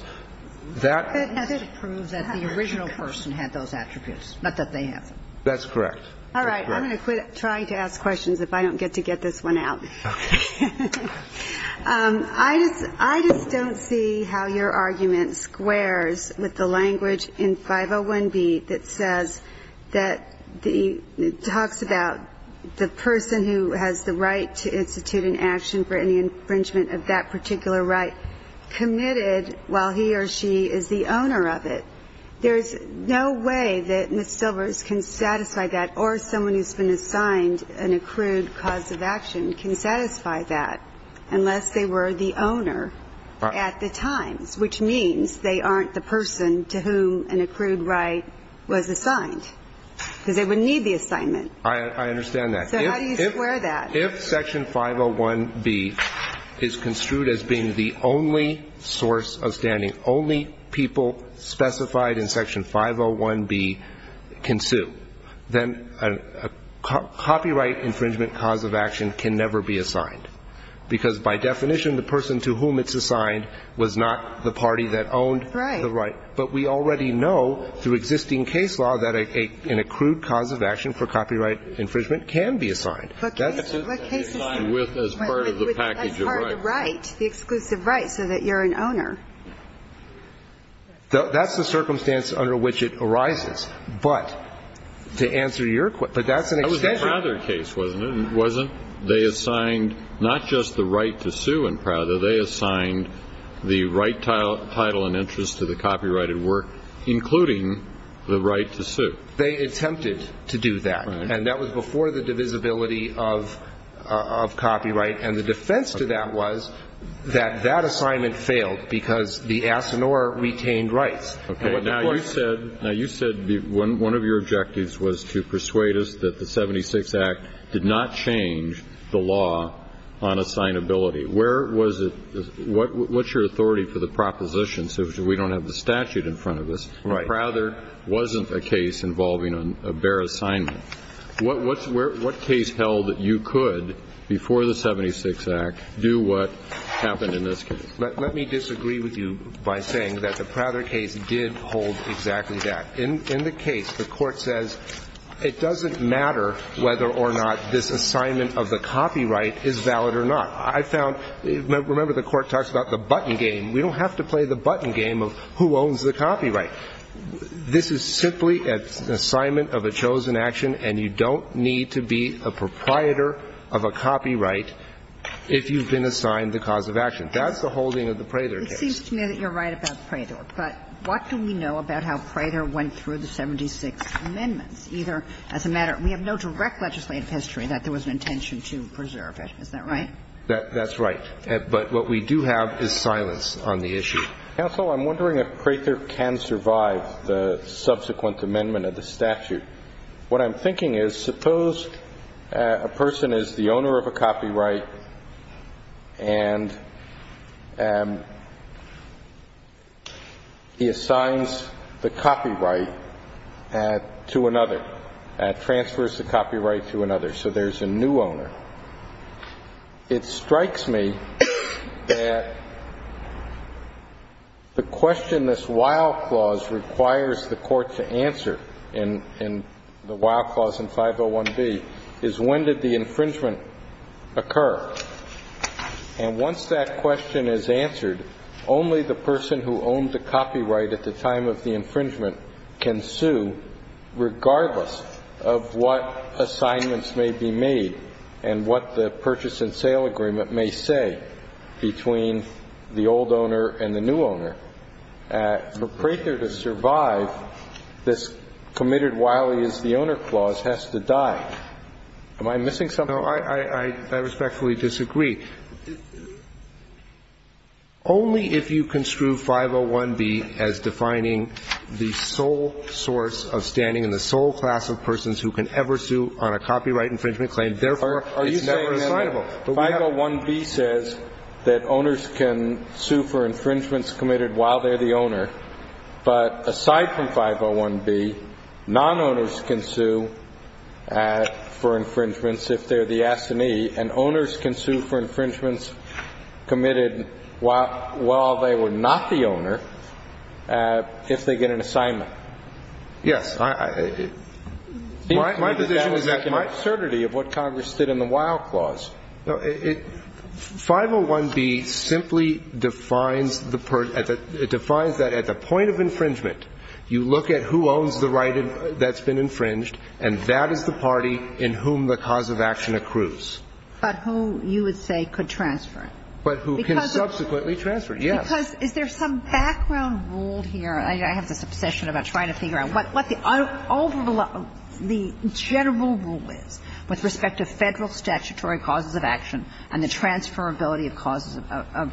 That has to prove that the original person had those attributes, not that they haven't. That's correct. All right. I'm going to quit trying to ask questions if I don't get to get this one out. Okay. I just don't see how your argument squares with the language in 501B that says that talks about the person who has the right to institute an action for any infringement of that particular right committed while he or she is the owner of it. There's no way that Ms. Silvers can satisfy that or someone who's been assigned an accrued cause of action can satisfy that unless they were the owner at the times, which means they aren't the person to whom an accrued right was assigned, because they wouldn't need the assignment. I understand that. So how do you square that? If Section 501B is construed as being the only source of standing, only people specified in Section 501B can sue, then a copyright infringement cause of action can never be assigned, because by definition the person to whom it's assigned was not the party that owned the right. Right. But we already know through existing case law that an accrued cause of action for copyright infringement can be assigned. What case is that? That's part of the right, the exclusive right, so that you're an owner. That's the circumstance under which it arises. But to answer your question, but that's an extension. That was the Prather case, wasn't it? It wasn't. They assigned not just the right to sue in Prather. They assigned the right title and interest to the copyrighted work, including the right to sue. They attempted to do that. And that was before the divisibility of copyright. And the defense to that was that that assignment failed because the assignor retained rights. Okay. Now, you said one of your objectives was to persuade us that the 76 Act did not change the law on assignability. Where was it? What's your authority for the proposition, since we don't have the statute in front of us? Right. Prather wasn't a case involving a bare assignment. What case held that you could, before the 76 Act, do what happened in this case? Let me disagree with you by saying that the Prather case did hold exactly that. In the case, the Court says it doesn't matter whether or not this assignment of the copyright is valid or not. I found – remember, the Court talks about the button game. We don't have to play the button game of who owns the copyright. This is simply an assignment of a chosen action, and you don't need to be a proprietor of a copyright if you've been assigned the cause of action. That's the holding of the Prather case. It seems to me that you're right about Prather. But what do we know about how Prather went through the 76 amendments? Either as a matter – we have no direct legislative history that there was an intention to preserve it. Is that right? That's right. But what we do have is silence on the issue. Counsel, I'm wondering if Prather can survive the subsequent amendment of the statute. What I'm thinking is, suppose a person is the owner of a copyright and he assigns the copyright to another, transfers the copyright to another. So there's a new owner. It strikes me that the question this Wild Clause requires the Court to answer in the Wild Clause in 501B is when did the infringement occur? And once that question is answered, only the person who owned the copyright at the time of the infringement can sue, regardless of what assignments may be made and what the purchase and sale agreement may say between the old owner and the new owner. For Prather to survive, this committed while he is the owner clause has to die. Am I missing something? No, I respectfully disagree. Only if you construe 501B as defining the sole source of standing and the sole class of persons who can ever sue on a copyright infringement claim, therefore, it's never assignable. Are you saying that 501B says that owners can sue for infringements committed while they're the owner, but aside from 501B, non-owners can sue for infringements if they're the assignee, and owners can sue for infringements committed while they were not the owner if they get an assignment? Yes. My position is that my certainty of what Congress did in the Wild Clause. No, 501B simply defines the perd at the, it defines that at the point of infringement, you look at who owns the right that's been infringed, and that is the party in whom the cause of action accrues. But who, you would say, could transfer it? But who can subsequently transfer it, yes. Because is there some background rule here? I have this obsession about trying to figure out what the overall, the general rule is with respect to Federal statutory causes of action and the transferability of causes of,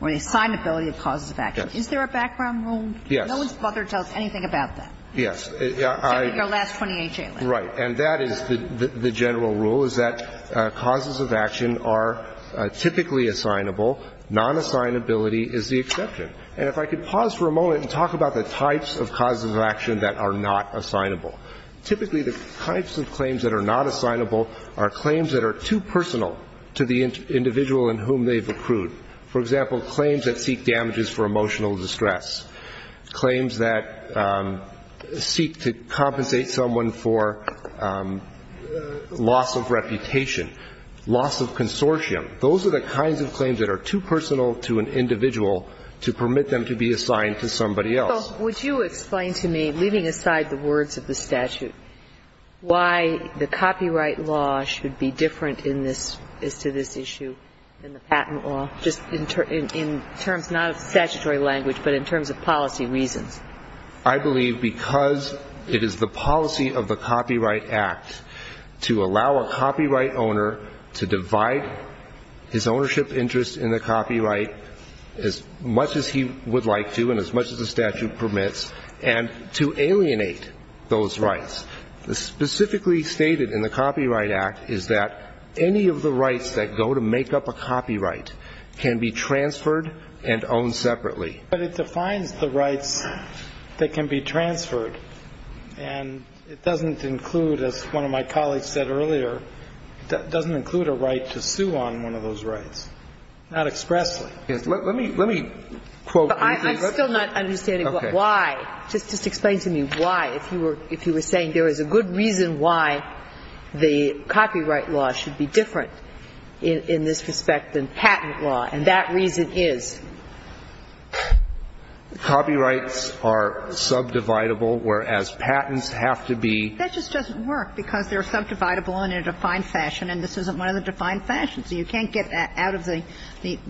or the assignability of causes of action. Is there a background rule? Yes. No one's bothered to tell us anything about that. Yes. Your last 28 days. Right. And that is the general rule, is that causes of action are typically assignable. Non-assignability is the exception. And if I could pause for a moment and talk about the types of causes of action that are not assignable. Typically, the types of claims that are not assignable are claims that are too personal to the individual in whom they've accrued. For example, claims that seek damages for emotional distress. Claims that seek to compensate someone for loss of reputation, loss of consortium. Those are the kinds of claims that are too personal to an individual to permit them to be assigned to somebody else. Well, would you explain to me, leaving aside the words of the statute, why the copyright law should be different in this, as to this issue than the patent law, just in terms not of statutory language, but in terms of policy reasons? I believe because it is the policy of the Copyright Act to allow a copyright owner to divide his ownership interest in the copyright as much as he would like to, and as much as the statute permits, and to alienate those rights. Specifically stated in the Copyright Act is that any of the rights that go to make up a copyright can be transferred and owned separately. But it defines the rights that can be transferred. And it doesn't include, as one of my colleagues said earlier, it doesn't include a right to sue on one of those rights. Not expressly. Let me quote. I'm still not understanding why. Just explain to me why. If you were saying there is a good reason why the copyright law should be different in this respect than patent law, and that reason is? Copyrights are subdividable, whereas patents have to be. That just doesn't work, because they're subdividable in a defined fashion, and this isn't one of the defined fashions. So you can't get out of the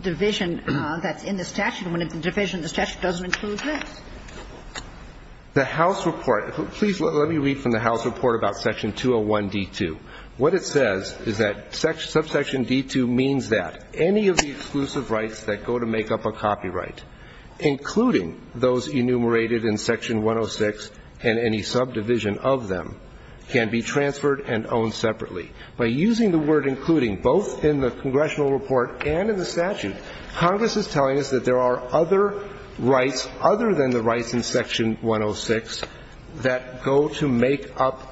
division that's in the statute when the division in the statute doesn't include this. The House report. Please let me read from the House report about section 201D2. What it says is that subsection D2 means that any of the exclusive rights that go to make up a copyright, including those enumerated in section 106 and any subdivision of them, can be transferred and owned separately. By using the word including, both in the congressional report and in the statute, Congress is telling us that there are other rights other than the rights in section 106 that go to make up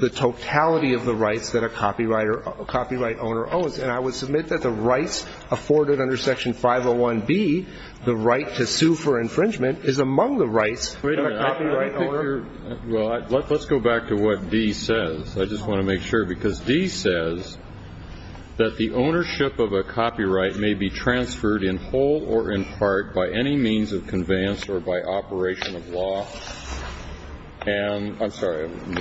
the totality of the rights that a copyright owner owns. And I would submit that the rights afforded under section 501B, the right to sue for infringement, is among the rights of a copyright owner. Well, let's go back to what D says. I just want to make sure, because D says that the ownership of a copyright may be transferred in whole or in part by any means of conveyance or by operation of law. And I'm sorry. I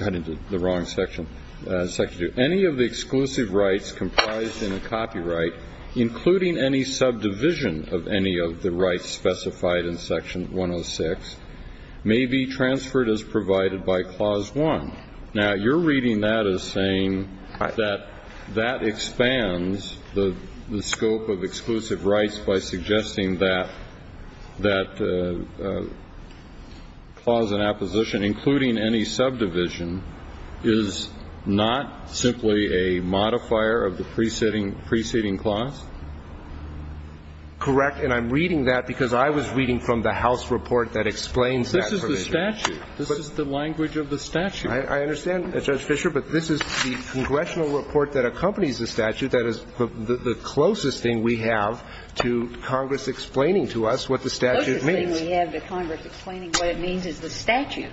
got into the wrong section. Section 2. Any of the exclusive rights comprised in a copyright, including any subdivision of any of the rights specified in section 106, may be transferred as provided by Clause 1. Now, you're reading that as saying that that expands the scope of exclusive rights by suggesting that that clause in opposition, including any subdivision, is not simply a modifier of the preceding clause? Correct. And I'm reading that because I was reading from the House report that explains that provision. This is the statute. This is the language of the statute. I understand, Judge Fischer, but this is the congressional report that accompanies the statute that is the closest thing we have to Congress explaining to us what the statute means. The closest thing we have to Congress explaining what it means is the statute.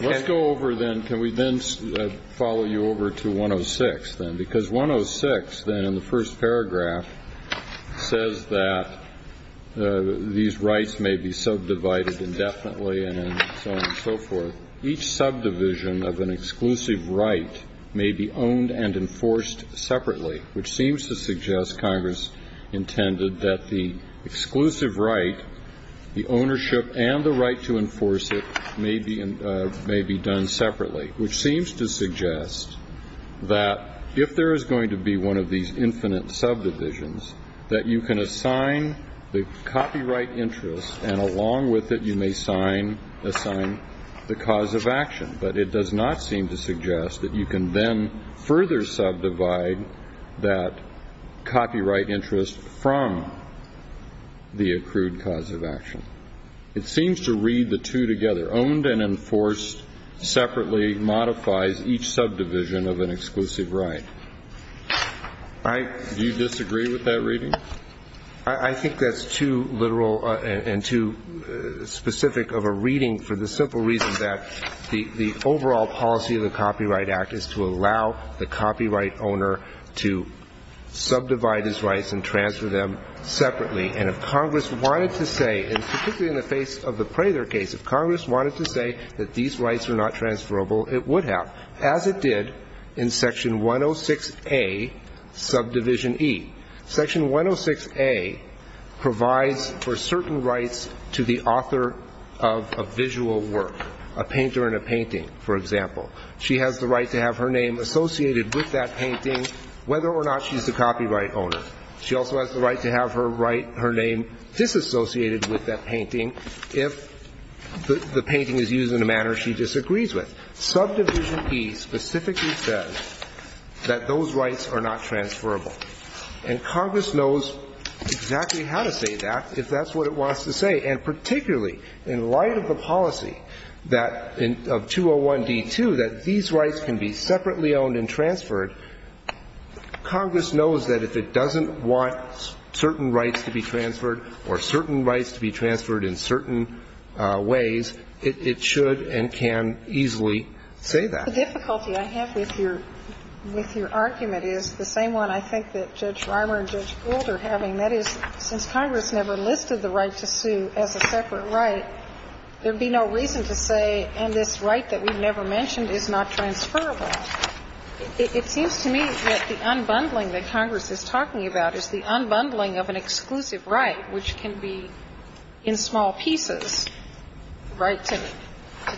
Let's go over, then. Can we then follow you over to 106, then? Because 106, then, in the first paragraph, says that these rights may be subdivided indefinitely and so on and so forth. Each subdivision of an exclusive right may be owned and enforced separately, which seems to suggest, Congress intended, that the exclusive right, the ownership and the right to enforce it, may be done separately, which seems to suggest that if there is going to be one of these infinite subdivisions, that you can assign the copyright interest and, along with it, you may assign the cause of action. But it does not seem to suggest that you can then further subdivide that copyright interest from the accrued cause of action. It seems to read the two together. I think that's too literal and too specific of a reading for the simple reason that the overall policy of the Copyright Act is to allow the copyright owner to subdivide his rights and transfer them separately. And if Congress wanted to say, and particularly in the face of the Prather case, rights are not transferable, it would have, as it did in Section 106A, Subdivision E. Section 106A provides for certain rights to the author of a visual work, a painter in a painting, for example. She has the right to have her name associated with that painting, whether or not she's the copyright owner. She also has the right to have her name disassociated with that painting if the painting is used in a manner she disagrees with. Subdivision E specifically says that those rights are not transferable. And Congress knows exactly how to say that, if that's what it wants to say. And particularly in light of the policy of 201D2, that these rights can be separately owned and transferred, Congress knows that if it doesn't want certain rights to be transferred, it should and can easily say that. The difficulty I have with your argument is the same one I think that Judge Reimer and Judge Gould are having. That is, since Congress never listed the right to sue as a separate right, there would be no reason to say, and this right that we've never mentioned is not transferable. It seems to me that the unbundling that Congress is talking about is the unbundling of an exclusive right, which can be in small pieces, the right to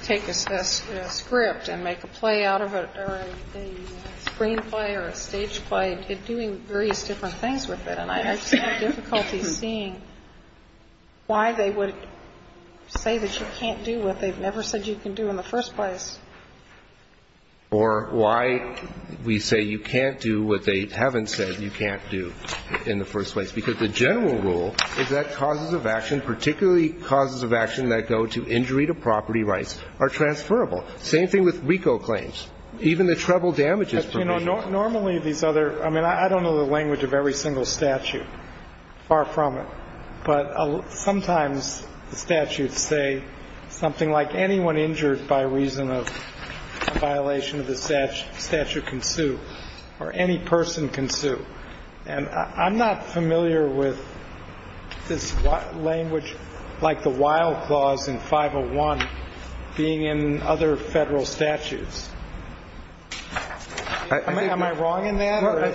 take a script and make a play out of it or a screenplay or a stage play, doing various different things with it. And I just have difficulty seeing why they would say that you can't do what they've never said you can do in the first place. Or why we say you can't do what they haven't said you can't do in the first place, because the general rule is that causes of action, particularly causes of action that go to injury to property rights, are transferable. Same thing with RICO claims. Even the treble damages provisions. Normally these other – I mean, I don't know the language of every single statute. Far from it. But sometimes the statutes say something like anyone injured by reason of violation of the statute can sue or any person can sue. And I'm not familiar with this language like the Wild Clause in 501 being in other federal statutes. Am I wrong in that? I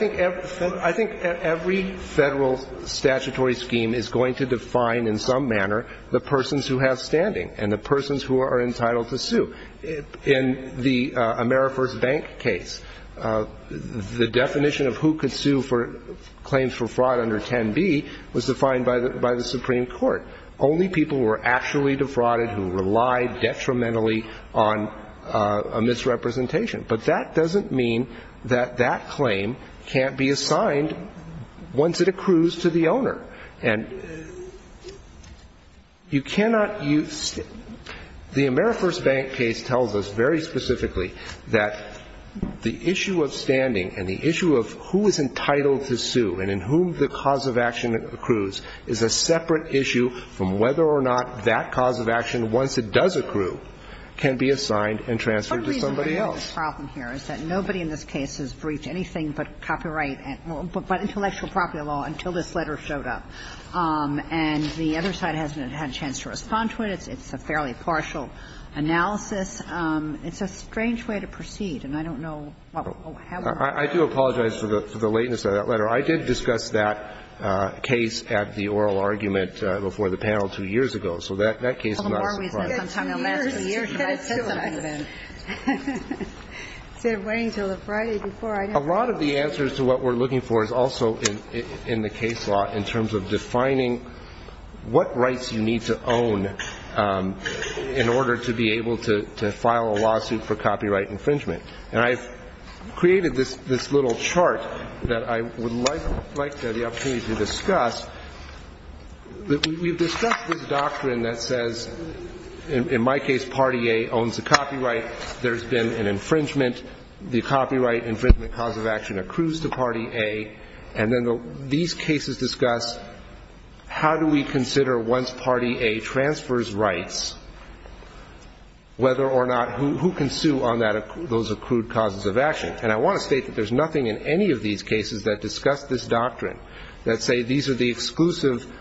think every federal statutory scheme is going to define in some manner the persons who have standing and the persons who are entitled to sue. In the Amerifors Bank case, the definition of who could sue for claims for fraud under 10b was defined by the Supreme Court. Only people who were actually defrauded who relied detrimentally on a misrepresentation. But that doesn't mean that that claim can't be assigned once it accrues to the owner. And you cannot use – the Amerifors Bank case tells us very specifically that the issue of standing and the issue of who is entitled to sue and in whom the cause of action accrues is a separate issue from whether or not that cause of action, once it does accrue, can be assigned and transferred to somebody else. The problem here is that nobody in this case has briefed anything but copyright – but intellectual property law until this letter showed up. And the other side hasn't had a chance to respond to it. It's a fairly partial analysis. It's a strange way to proceed, and I don't know what will happen. I do apologize for the lateness of that letter. I did discuss that case at the oral argument before the panel two years ago. So that case is not surprising. A lot of the answers to what we're looking for is also in the case law in terms of defining what rights you need to own in order to be able to file a lawsuit for copyright infringement. And I've created this little chart that I would like the opportunity to discuss. We've discussed this doctrine that says, in my case, Party A owns the copyright. There's been an infringement. The copyright infringement cause of action accrues to Party A. And then these cases discuss how do we consider, once Party A transfers rights, whether or not who can sue on those accrued causes of action. And I want to state that there's nothing in any of these cases that discuss this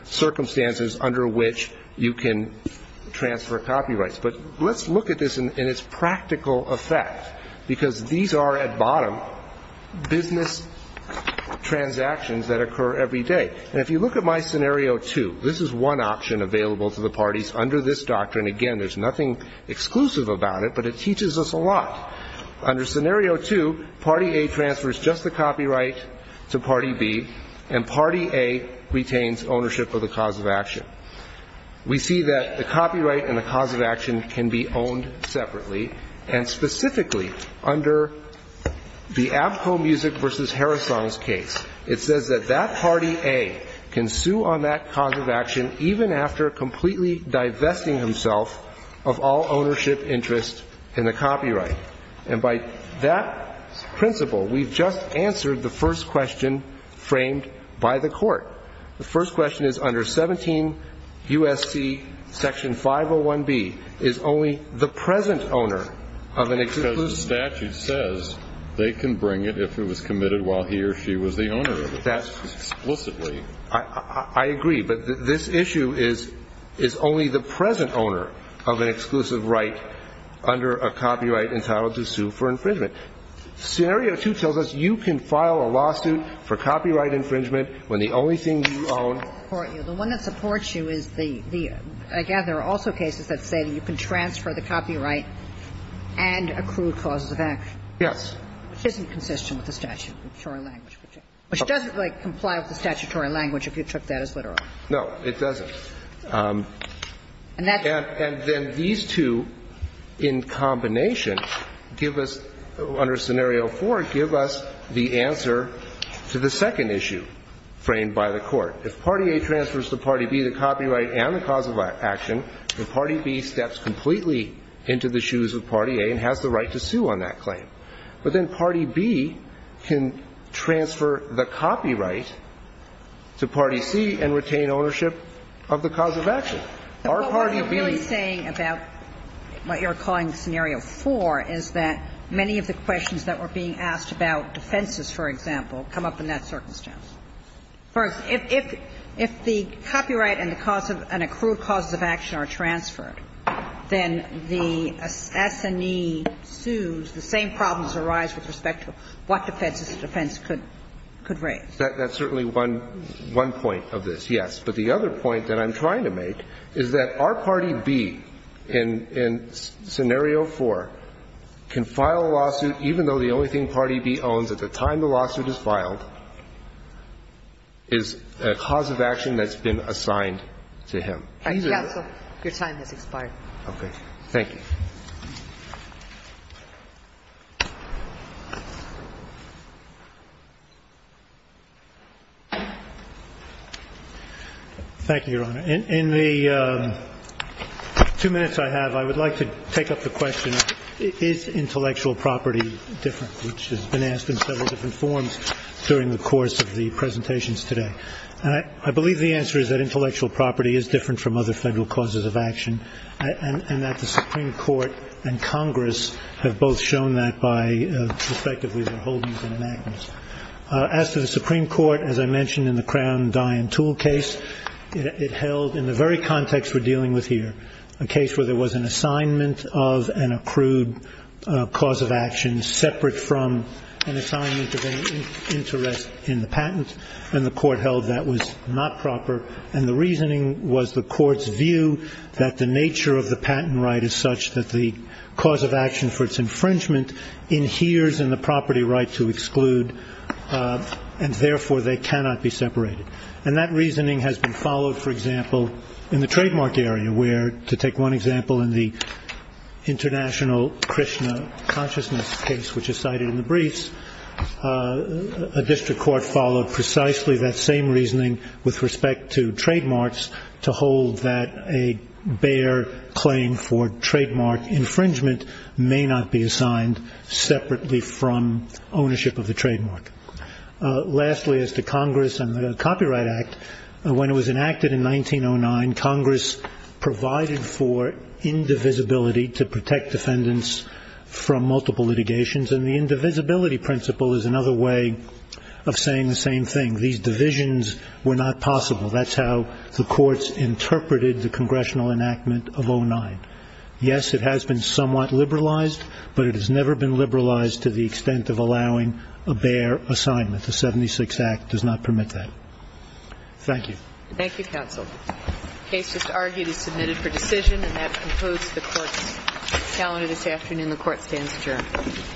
circumstances under which you can transfer copyrights. But let's look at this in its practical effect, because these are, at bottom, business transactions that occur every day. And if you look at my scenario two, this is one option available to the parties under this doctrine. Again, there's nothing exclusive about it, but it teaches us a lot. Under scenario two, Party A transfers just the copyright to Party B, and Party A retains ownership of the cause of action. We see that the copyright and the cause of action can be owned separately. And specifically, under the Abko Music v. Harrison's case, it says that that Party A can sue on that cause of action even after completely divesting himself of all ownership, interest, and the copyright. And by that principle, we've just answered the first question framed by the Court. The first question is, under 17 U.S.C. section 501B, is only the present owner of an exclusive Because the statute says they can bring it if it was committed while he or she was the owner of it. That's explicitly. I agree, but this issue is only the present owner of an exclusive right under a copyright entitled to sue for infringement. Scenario two tells us you can file a lawsuit for copyright infringement when the only thing you own The one that supports you is the, again, there are also cases that say you can transfer the copyright and accrue causes of action. Yes. Which isn't consistent with the statutory language. Which doesn't, like, comply with the statutory language if you took that as literal. No, it doesn't. And then these two, in combination, give us, under scenario four, give us the answer to the second issue framed by the Court. If party A transfers to party B the copyright and the cause of action, then party B steps completely into the shoes of party A and has the right to sue on that claim. But then party B can transfer the copyright to party C and retain ownership of the cause of action. Our party B What you're really saying about what you're calling scenario four is that many of the questions that were being asked about defenses, for example, come up in that circumstance. First, if the copyright and the cause of an accrued cause of action are transferred, then the S&E sues, the same problems arise with respect to what defenses the defense could raise. That's certainly one point of this, yes. But the other point that I'm trying to make is that our party B in scenario four can file a lawsuit even though the only thing party B owns at the time the lawsuit is filed is a cause of action that's been assigned to him. Sorry for taking his time. No problem. You may go now. Mr. B [INAUDIBLE] Your time has expired. Thank you. Thank you, Your Honor. In the two minutes I have, I would like to take up the question, is intellectual property different, which has been asked in several different forms during the course of the presentations today. And I believe the answer is that intellectual property is different from other federal causes of action, and that the Supreme Court and Congress have both shown that by, respectively, their holdings and enactments. As to the Supreme Court, as I mentioned in the Crown Dye and Tool case, it held, in the very context we're dealing with here, a case where there was an assignment of an accrued cause of action separate from an assignment of an interest in the patent, and the court held that was not proper. And the reasoning was the court's view that the nature of the patent right is such that the cause of action for its infringement inheres in the property right to exclude, and therefore they cannot be separated. And that reasoning has been followed, for example, in the trademark area, where, to take one example in the International Krishna Consciousness case, which is cited in the briefs, a district court followed precisely that same reasoning with respect to trademarks to hold that a bare claim for trademark infringement may not be assigned separately from ownership of the trademark. Lastly, as to Congress and the Copyright Act, when it was enacted in 1909, Congress provided for indivisibility to protect defendants from multiple litigations, and the indivisibility principle is another way of saying the same thing. These divisions were not possible. That's how the courts interpreted the congressional enactment of 09. Yes, it has been somewhat liberalized, but it has never been liberalized to the extent of allowing a bare assignment. The 76 Act does not permit that. Thank you. Thank you, counsel. The case just argued is submitted for decision, and that concludes the court's calendar this afternoon. The court stands adjourned.